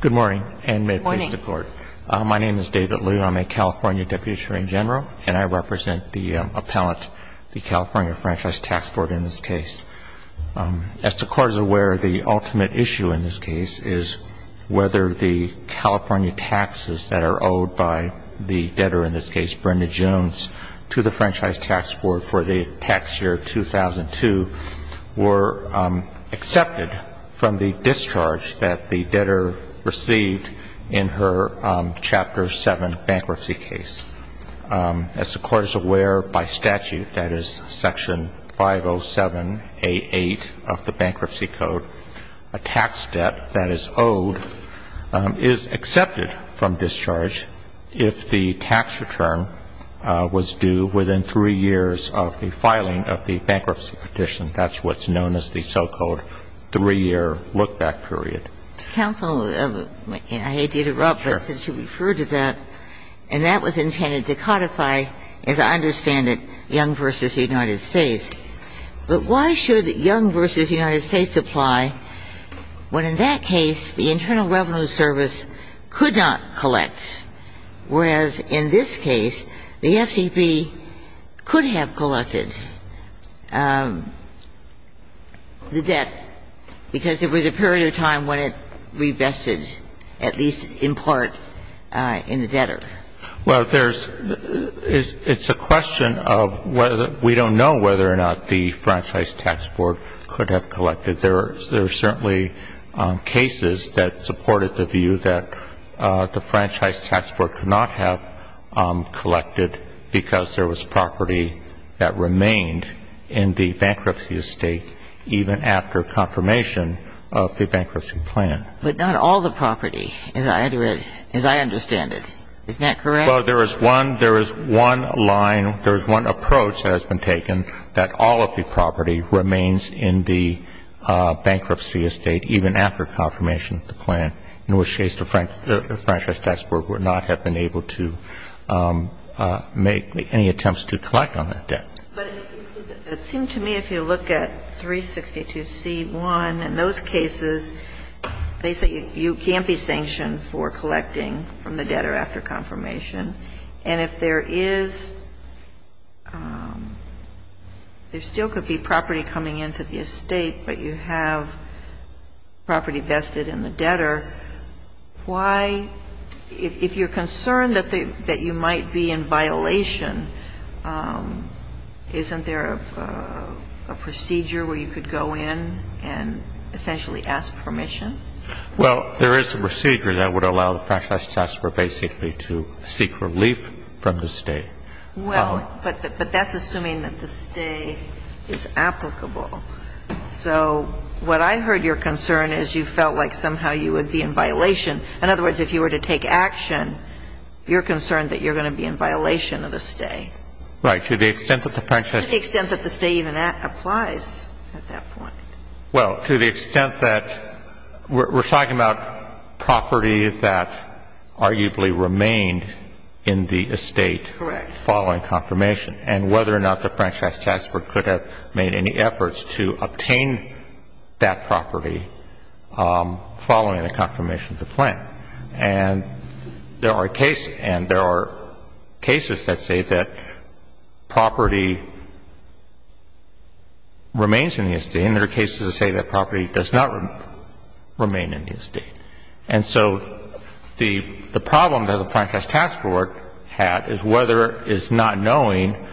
Good morning, and may it please the Court. My name is David Liu. I'm a California Deputy Attorney General, and I represent the appellant, the California Franchise Tax Board, in this case. As the Court is aware, the ultimate issue in this case is whether the California taxes that are owed by the debtor, in this case Brenda Jones, to the Franchise Tax Board for the tax year 2002 were accepted from the discharge that the debtor received in her Chapter 7 bankruptcy case. As the Court is aware, by statute, that is Section 507A8 of the Bankruptcy Code, a tax debt that is owed is accepted from discharge if the tax return was due within three years of the filing of the bankruptcy petition. That's what's known as the so-called three-year look-back period. Counsel, I hate to interrupt, but since you referred to that, and that was intended to codify, as I understand it, Young v. United States. But why should Young v. United States apply when in that case the Internal Revenue Service could not collect, whereas in this case the FTP could have collected the debt because it was a period of time when it revested, at least in part, in the debtor? Well, there's – it's a question of whether – we don't know whether or not the Franchise Tax Board could have collected. There are certainly cases that supported the view that the Franchise Tax Board could not have collected because there was property that remained in the bankruptcy estate even after confirmation of the bankruptcy plan. But not all the property, as I understand it. Isn't that correct? Well, there is one – there is one line, there is one approach that has been taken, that all of the property remains in the bankruptcy estate even after confirmation of the plan. In which case the Franchise Tax Board would not have been able to make any attempts to collect on that debt. But it seemed to me if you look at 362C1, in those cases they say you can't be sanctioned for collecting from the debtor after confirmation. And if there is – there still could be property coming into the estate, but you have property vested in the debtor. Why – if you're concerned that you might be in violation, isn't there a procedure where you could go in and essentially ask permission? Well, there is a procedure that would allow the Franchise Tax Board basically to seek relief from the estate. Well, but that's assuming that the stay is applicable. So what I heard your concern is you felt like somehow you would be in violation. In other words, if you were to take action, you're concerned that you're going to be in violation of the stay. Right. To the extent that the Franchise – To the extent that the stay even applies at that point. Well, to the extent that – we're talking about property that arguably remained in the estate following confirmation. Correct. And whether or not the Franchise Tax Board could have made any efforts to obtain that property following the confirmation of the plan. And there are cases – and there are cases that say that property remains in the estate and there are cases that say that property does not remain in the estate. And so the problem that the Franchise Tax Board had is whether – is not knowing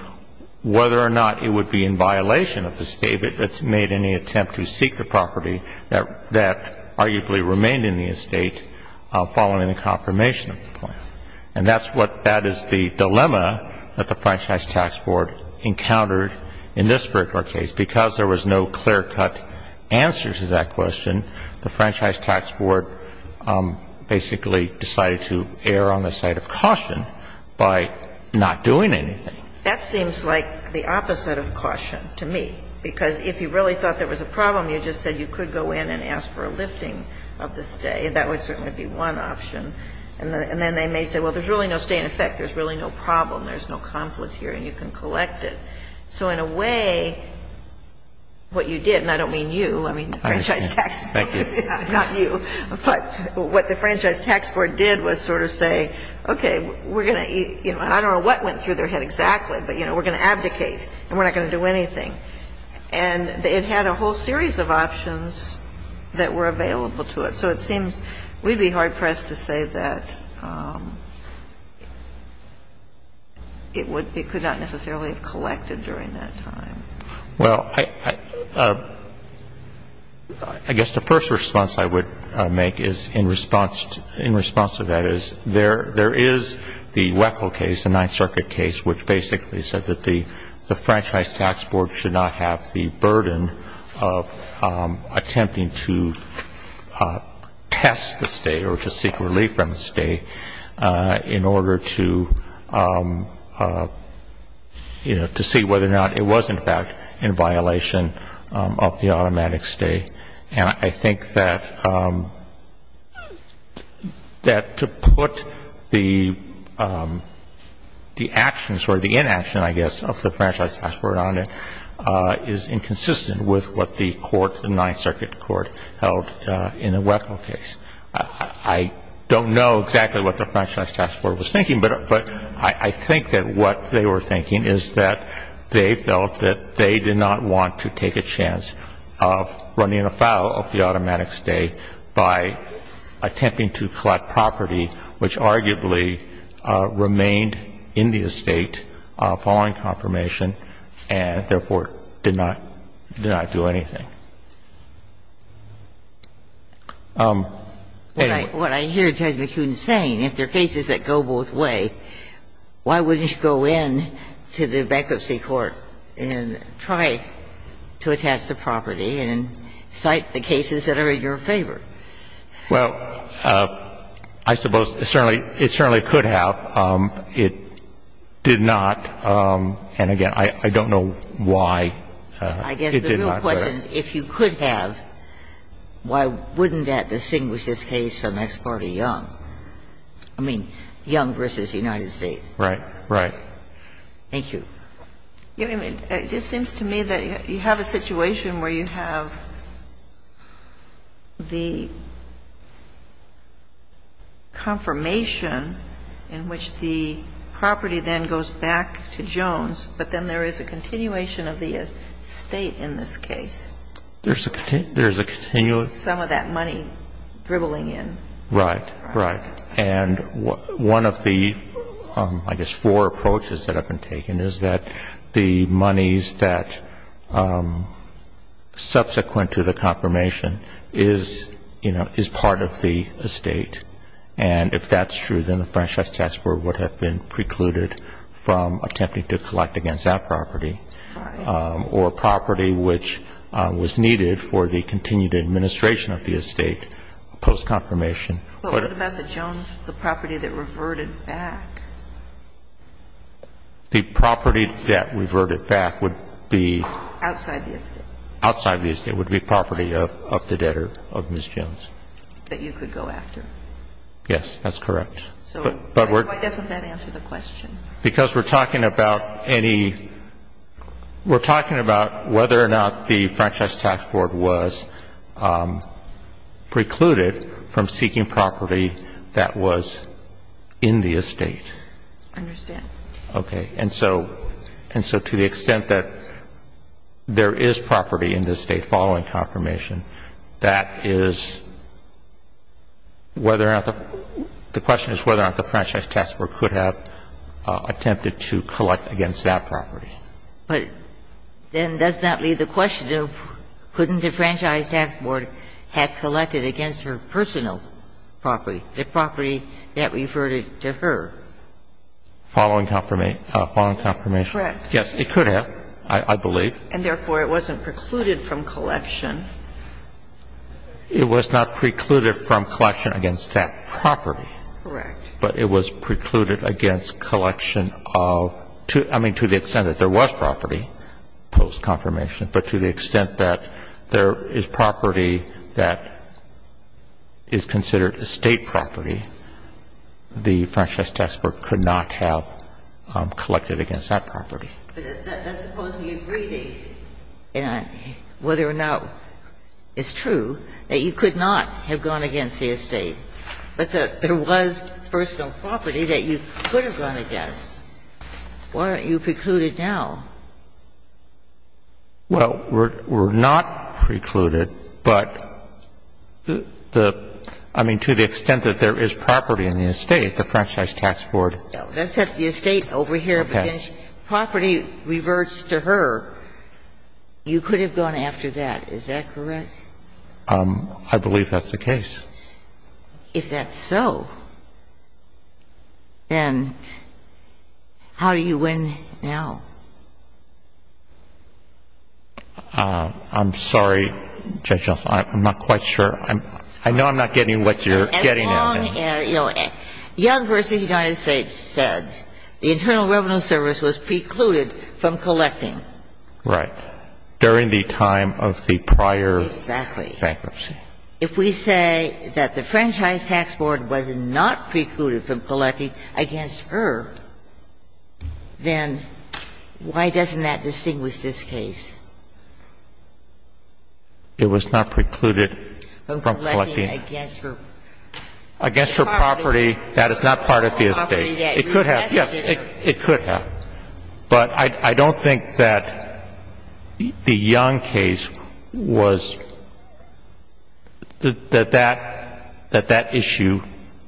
whether or not it would be in violation of the stay that's made in the attempt to seek the property that arguably remained in the estate following the confirmation of the plan. And that's what – that is the dilemma that the Franchise Tax Board encountered in this particular case because there was no clear-cut answer to that question. The Franchise Tax Board basically decided to err on the side of caution by not doing anything. That seems like the opposite of caution to me. Because if you really thought there was a problem, you just said you could go in and ask for a lifting of the stay. That would certainly be one option. And then they may say, well, there's really no stay in effect. There's really no problem. There's no conflict here and you can collect it. So in a way, what you did – and I don't mean you. I mean the Franchise Tax Board. Thank you. Not you. But what the Franchise Tax Board did was sort of say, okay, we're going to – I don't know what went through their head exactly, but we're going to abdicate and we're not going to do anything. And it had a whole series of options that were available to it. So it seems we'd be hard-pressed to say that it would – it could not necessarily have collected during that time. Well, I guess the first response I would make is in response to that is there is the Weckl case, the Ninth Circuit case, which basically said that the Franchise Tax Board should not have the burden of attempting to test the stay or to seek relief from the stay in order to, you know, to see whether or not it was, in fact, in violation of the automatic stay. And I think that to put the actions or the inaction, I guess, of the Franchise Tax Board on it is inconsistent with what the court, the Ninth Circuit court, held in the Weckl case. I don't know exactly what the Franchise Tax Board was thinking, but I think that what they were thinking is that they felt that they did not want to take a chance of running afoul of the automatic stay by attempting to collect property which arguably remained in the estate following confirmation and therefore did not do anything. Anyway. What I hear Judge McKeown saying, if there are cases that go both ways, why wouldn't you go in to the bankruptcy court and try to attest the property and cite the cases that are in your favor? Well, I suppose it certainly could have. But it did not. And again, I don't know why it did not. I guess the real question is if you could have, why wouldn't that distinguish this case from Ex parte Young? I mean, Young v. United States. Right. Right. Thank you. I mean, it just seems to me that you have a situation where you have the confirmation in which the property then goes back to Jones, but then there is a continuation of the estate in this case. There's a continuous. Some of that money dribbling in. Right. Right. And one of the, I guess, four approaches that have been taken is that the monies that subsequent to the confirmation is, you know, is part of the estate. And if that's true, then the Franchise Tax Board would have been precluded from attempting to collect against that property or property which was needed for the continued administration of the estate post-confirmation. But what about the Jones, the property that reverted back? The property that reverted back would be? Outside the estate. Outside the estate would be property of the debtor, of Ms. Jones. That you could go after. Yes, that's correct. So why doesn't that answer the question? Because we're talking about any, we're talking about whether or not the Franchise Tax Board was precluded from seeking property that was in the estate. I understand. Okay. And so to the extent that there is property in the estate following confirmation, that is whether or not the question is whether or not the Franchise Tax Board could have attempted to collect against that property. But then does that leave the question of couldn't the Franchise Tax Board have collected against her personal property, the property that reverted to her? Following confirmation? Correct. Yes, it could have, I believe. And therefore, it wasn't precluded from collection. It was not precluded from collection against that property. Correct. But it was precluded against collection of, I mean, to the extent that there was property post-confirmation. But to the extent that there is property that is considered estate property, the Franchise Tax Board could not have collected against that property. But that's supposed to be a greeting, whether or not it's true that you could not have gone against the estate. But there was personal property that you could have gone against. Why aren't you precluded now? Well, we're not precluded, but the – I mean, to the extent that there is property in the estate, the Franchise Tax Board. Let's set the estate over here. Okay. Property reverts to her. You could have gone after that. Is that correct? I believe that's the case. If that's so, then how do you win now? I'm sorry, Judge Gelsen. I'm not quite sure. I know I'm not getting what you're getting at. As long as, you know, Young v. United States said the Internal Revenue Service was precluded from collecting. Right. During the time of the prior bankruptcy. Exactly. If we say that the Franchise Tax Board was not precluded from collecting against her, then why doesn't that distinguish this case? It was not precluded from collecting. Against her property. Against her property. That is not part of the estate. It could have. Yes, it could have. But I don't think that the Young case was, that that issue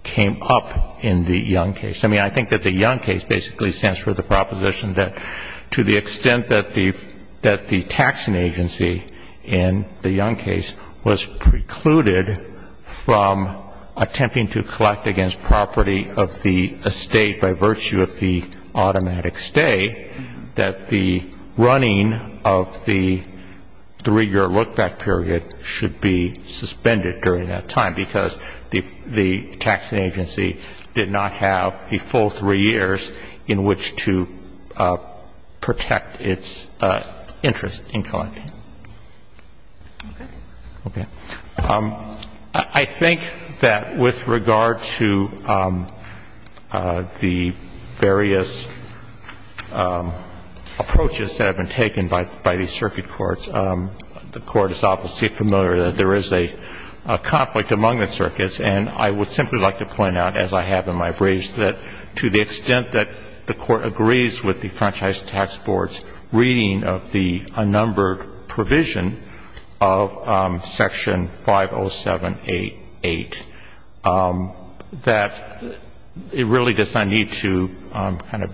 came up in the Young case. I mean, I think that the Young case basically stands for the proposition that to the extent that the taxing agency in the Young case was precluded from attempting to collect against property of the estate by virtue of the automatic stay, that the running of the three-year look-back period should be suspended during that time because the taxing agency did not have the full three years in which to protect its interest in collecting. Okay. Okay. I think that with regard to the various approaches that have been taken by the circuit courts, the Court is obviously familiar that there is a conflict among the circuits. And I would simply like to point out, as I have in my briefs, that to the extent that the Court agrees with the Franchise Tax Board's reading of the unnumbered provision of Section 50788, that it really does not need to kind of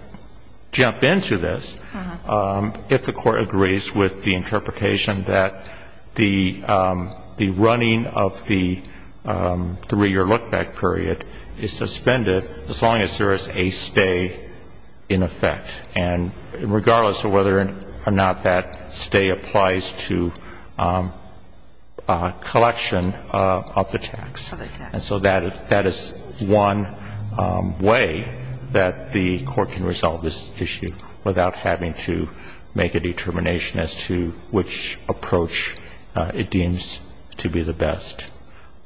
jump into this if the Court agrees with the interpretation that the running of the three-year look-back period is suspended as long as there is a stay in effect, and regardless of whether or not that stay applies to collection of the tax. And so that is one way that the Court can resolve this issue without having to make a determination as to which approach it deems to be the best.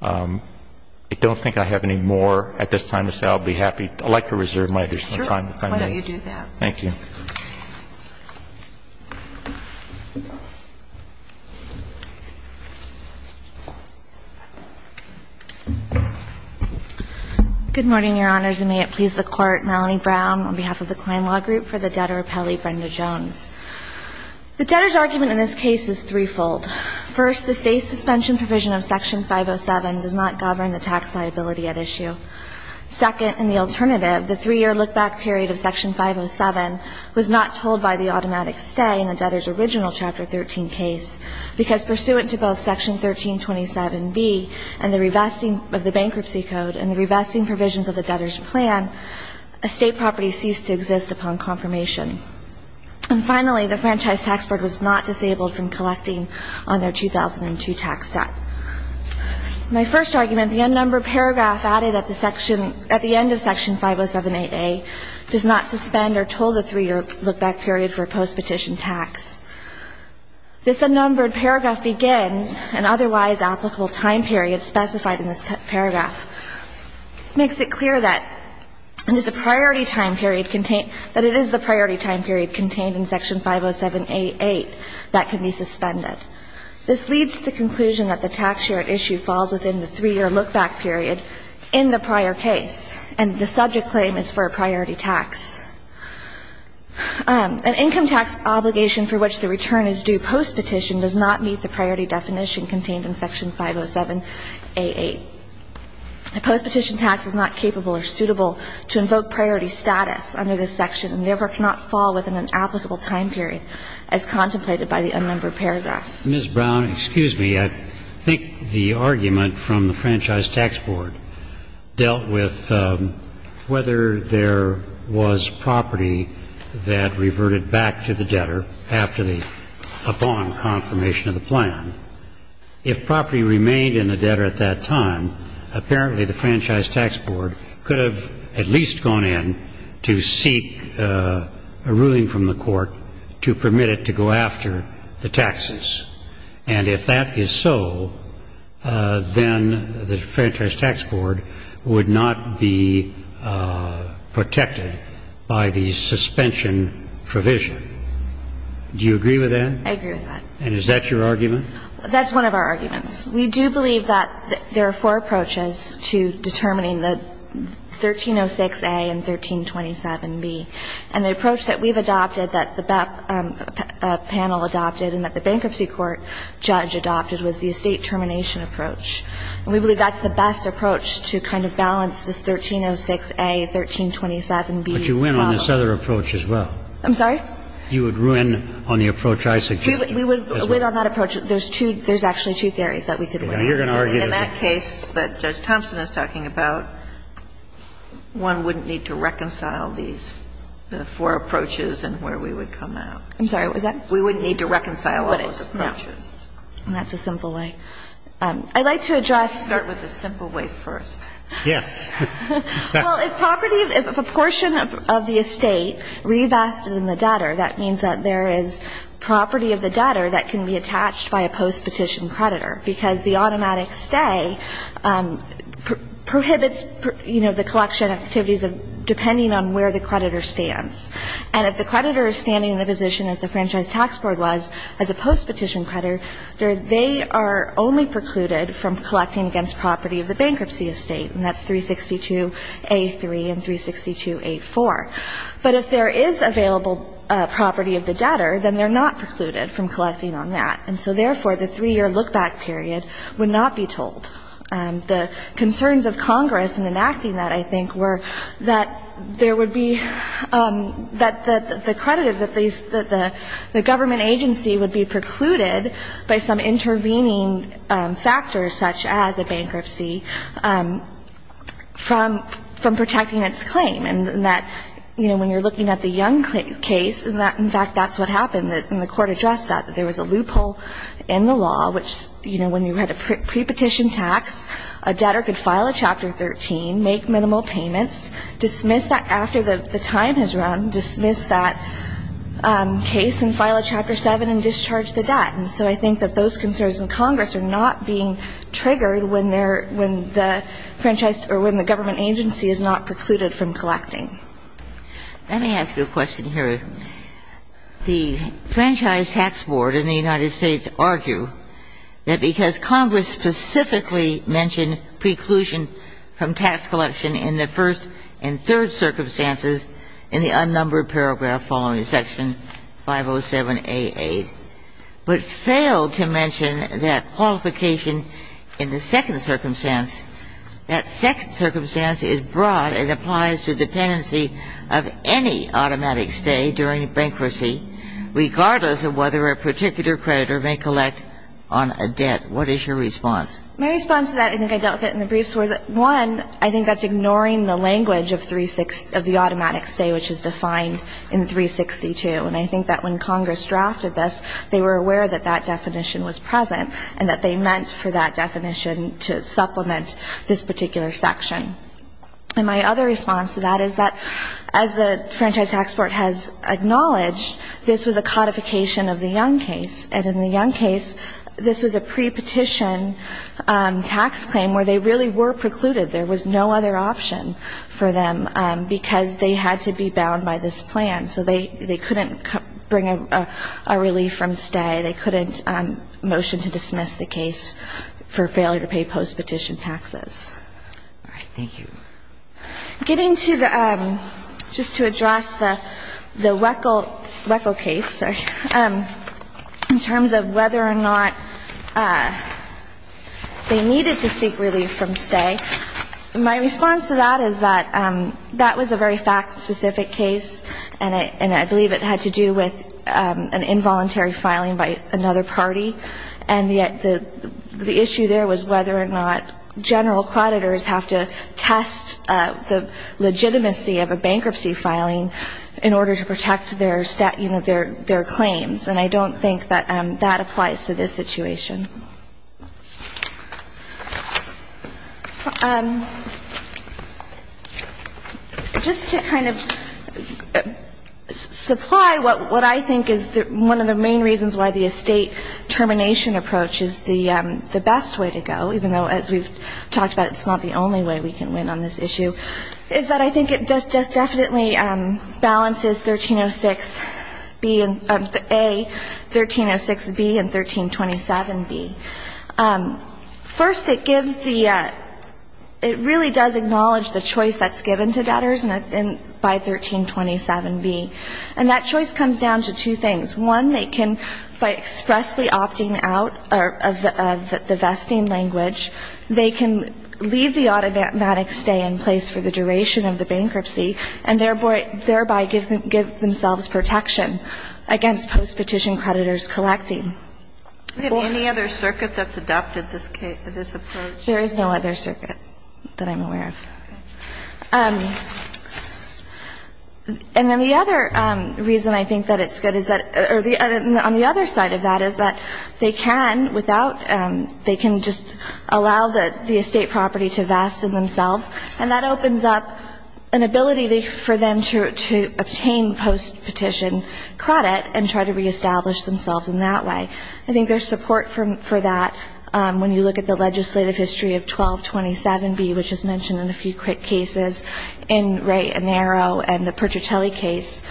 I don't think I have any more at this time to say. I'll be happy. I'd like to reserve my additional time if I may. Sure. Why don't you do that. Thank you. Good morning, Your Honors, and may it please the Court. Melanie Brown on behalf of the Klein Law Group for the debtor appellee Brenda Jones. The debtor's argument in this case is threefold. First, the stay suspension provision of Section 507 does not govern the tax liability at issue. Second, in the alternative, the three-year look-back period of Section 507 was not told by the automatic stay in the debtor's original Chapter 13 case, because pursuant to both Section 1327B and the revesting of the bankruptcy code and the revesting provisions of the debtor's plan, estate property ceased to exist upon confirmation. And finally, the Franchise Tax Board was not disabled from collecting on their 2002 tax set. My first argument, the unnumbered paragraph added at the end of Section 507aA does not suspend or toll the three-year look-back period for post-petition tax. This unnumbered paragraph begins an otherwise applicable time period specified in this paragraph. This makes it clear that it is the priority time period contained in Section 507aA that can be suspended. This leads to the conclusion that the tax share at issue falls within the three-year look-back period in the prior case, and the subject claim is for a priority tax. An income tax obligation for which the return is due post-petition does not meet the priority definition contained in Section 507aA. A post-petition tax is not capable or suitable to invoke priority status under this section and therefore cannot fall within an applicable time period as contemplated by the unnumbered paragraph. Mr. Brown, excuse me. I think the argument from the Franchise Tax Board dealt with whether there was property that reverted back to the debtor after the upon confirmation of the plan. If property remained in the debtor at that time, apparently the Franchise Tax Board could have at least gone in to seek a ruling from the court to permit it to go after the taxes. And if that is so, then the Franchise Tax Board would not be protected by the suspension provision. Do you agree with that? I agree with that. And is that your argument? That's one of our arguments. We do believe that there are four approaches to determining the 1306a and 1327b. And the approach that we've adopted, that the panel adopted and that the bankruptcy court judge adopted was the estate termination approach. And we believe that's the best approach to kind of balance this 1306a, 1327b problem. But you win on this other approach as well. I'm sorry? You would win on the approach I suggested. We would win on that approach. There's two – there's actually two theories that we could win. In that case that Judge Thompson is talking about, one wouldn't need to reconcile these four approaches and where we would come out. I'm sorry, what was that? We wouldn't need to reconcile all those approaches. And that's a simple way. I'd like to address – Start with the simple way first. Yes. Well, if property of a portion of the estate revested in the debtor, that means that there is property of the debtor that can be attached by a postpetition creditor, because the automatic stay prohibits, you know, the collection activities depending on where the creditor stands. And if the creditor is standing in the position as the Franchise Tax Board was as a postpetition creditor, they are only precluded from collecting against property of the bankruptcy estate, and that's 362a3 and 362a4. But if there is available property of the debtor, then they're not precluded from collecting on that. And so, therefore, the three-year look-back period would not be told. The concerns of Congress in enacting that, I think, were that there would be – that the creditor, that the government agency would be precluded by some intervening factors, such as a bankruptcy, from protecting its claim, and that, you know, when you're looking at the Young case, in fact, that's what happened, and the Court addressed that, that there was a loophole in the law which, you know, when you had a prepetition tax, a debtor could file a Chapter 13, make minimal payments, dismiss that after the time has run, dismiss that case and file a Chapter 7 and discharge the debt. And so I think that those concerns in Congress are not being triggered when there – when the franchise or when the government agency is not precluded from collecting. Let me ask you a question here. The Franchise Tax Board in the United States argue that because Congress specifically mentioned preclusion from tax collection in the first and third circumstances in the unnumbered paragraph following Section 507A.8, but failed to mention that qualification in the second circumstance, that second circumstance is broad and applies to dependency of any automatic stay during bankruptcy, regardless of whether a particular creditor may collect on a debt. What is your response? My response to that, I think I dealt with it in the briefs, was that, one, I think that's ignoring the language of the automatic stay, which is defined in 362. And I think that when Congress drafted this, they were aware that that definition was present and that they meant for that definition to supplement this particular section. And my other response to that is that, as the Franchise Tax Board has acknowledged, this was a codification of the Young case. And in the Young case, this was a prepetition tax claim where they really were precluded. There was no other option for them because they had to be bound by this plan. So they couldn't bring a relief from stay. They couldn't motion to dismiss the case for failure to pay postpetition taxes. All right. Thank you. Getting to the ‑‑ just to address the WECL case, sorry, in terms of whether or not they needed to seek relief from stay, my response to that is that that was a very fact‑specific case, and I believe it had to do with an involuntary filing by another party. And the issue there was whether or not general creditors have to test the legitimacy of a bankruptcy filing in order to protect their claims. And I don't think that that applies to this situation. Just to kind of supply what I think is one of the main reasons why the estate termination approach is the best way to go, even though, as we've talked about, it's not the only way we can win on this issue, is that I think it just definitely balances 1306B and A and 1306A, 1306B and 1327B. First, it gives the ‑‑ it really does acknowledge the choice that's given to debtors by 1327B. And that choice comes down to two things. One, they can, by expressly opting out of the vesting language, they can leave the automatic stay in place for the duration of the bankruptcy, and thereby give themselves protection against postpetition creditors collecting. Well ‑‑ Do we have any other circuit that's adopted this approach? There is no other circuit that I'm aware of. Okay. And then the other reason I think that it's good is that ‑‑ on the other side of that is that they can, without ‑‑ they can just allow the estate property to vest in themselves, and that opens up an ability for them to obtain postpetition credit, and try to reestablish themselves in that way. I think there's support for that when you look at the legislative history of 1227B, which is mentioned in a few cases, in Ray Anero and the Pertratelli case.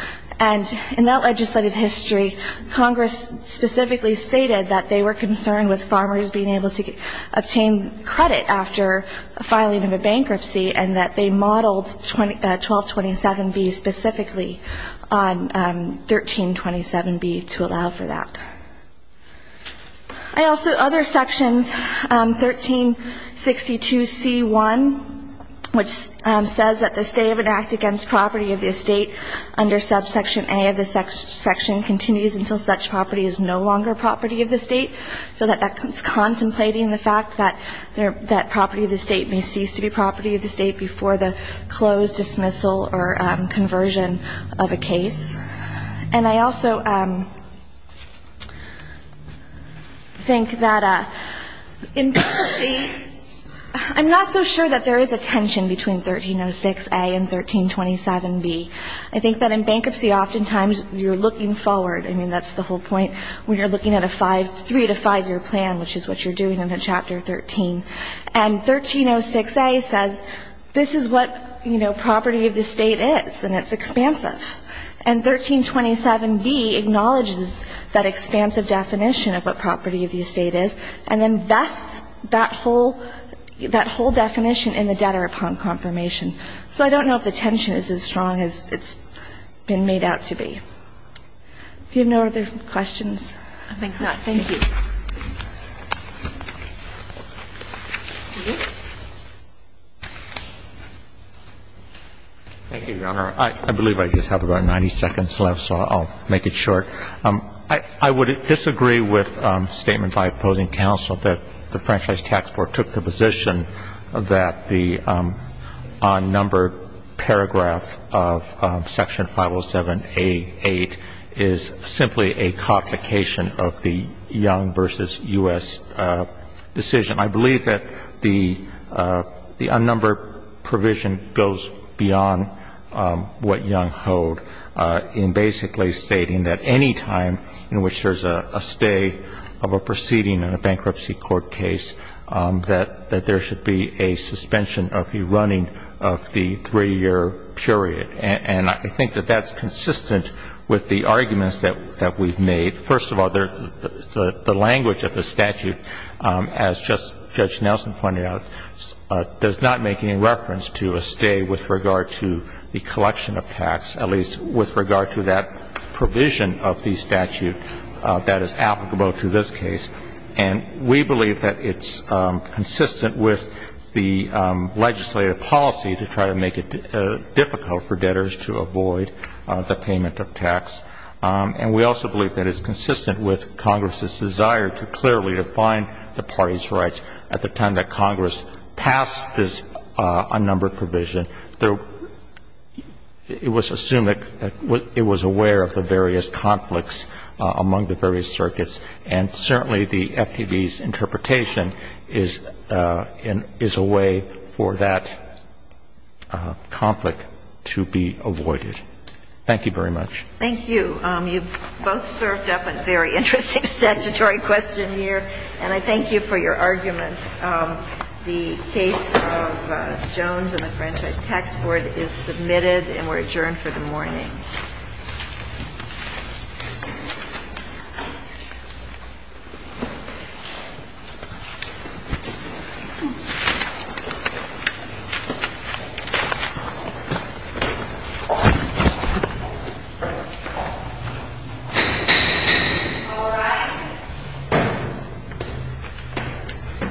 And in that legislative history, Congress specifically stated that they were concerned with farmers being able to obtain credit after filing of a bankruptcy, and that they modeled 1227B specifically on 1327B to allow for that. I also ‑‑ other sections, 1362C1, which says that the stay of an act against property of the estate under subsection A of this section continues until such property is no longer property of the state. So that that's contemplating the fact that property of the state may cease to be property of the state before the closed dismissal or conversion of a case. And I also think that in bankruptcy, I'm not so sure that there is a tension between 1306A and 1327B. I think that in bankruptcy, oftentimes, you're looking forward. I mean, that's the whole point. When you're looking at a three‑to‑five‑year plan, which is what you're doing in Chapter 13. And 1306A says this is what, you know, property of the state is, and it's expansive. And 1327B acknowledges that expansive definition of what property of the estate is and invests that whole ‑‑ that whole definition in the debtor upon confirmation. So I don't know if the tension is as strong as it's been made out to be. Do you have no other questions? Thank you. Thank you, Your Honor. I believe I just have about 90 seconds left, so I'll make it short. I would disagree with a statement by opposing counsel that the Franchise Tax Board took the position that the unnumbered paragraph of Section 507A.8 is simply a complication of the Young v. U.S. decision. I believe that the unnumbered provision goes beyond what Young held in basically stating that any time in which there's a stay of a proceeding in a bankruptcy court case, that there should be a suspension of the running of the three‑year period. And I think that that's consistent with the arguments that we've made. First of all, the language of the statute, as just Judge Nelson pointed out, does not make any reference to a stay with regard to the collection of tax, at least with regard to that provision of the statute that is applicable to this case. And we believe that it's consistent with the legislative policy to try to make it difficult for debtors to avoid the payment of tax. And we also believe that it's consistent with Congress's desire to clearly define the party's rights at the time that Congress passed this unnumbered provision. It was assumed that it was aware of the various conflicts among the various circuits, and certainly the FTB's interpretation is a way for that conflict to be avoided. Thank you very much. Thank you. You've both served up a very interesting statutory question here. And I thank you for your arguments. The case of Jones and the Franchise Tax Board is submitted and we're adjourned for the morning. All rise.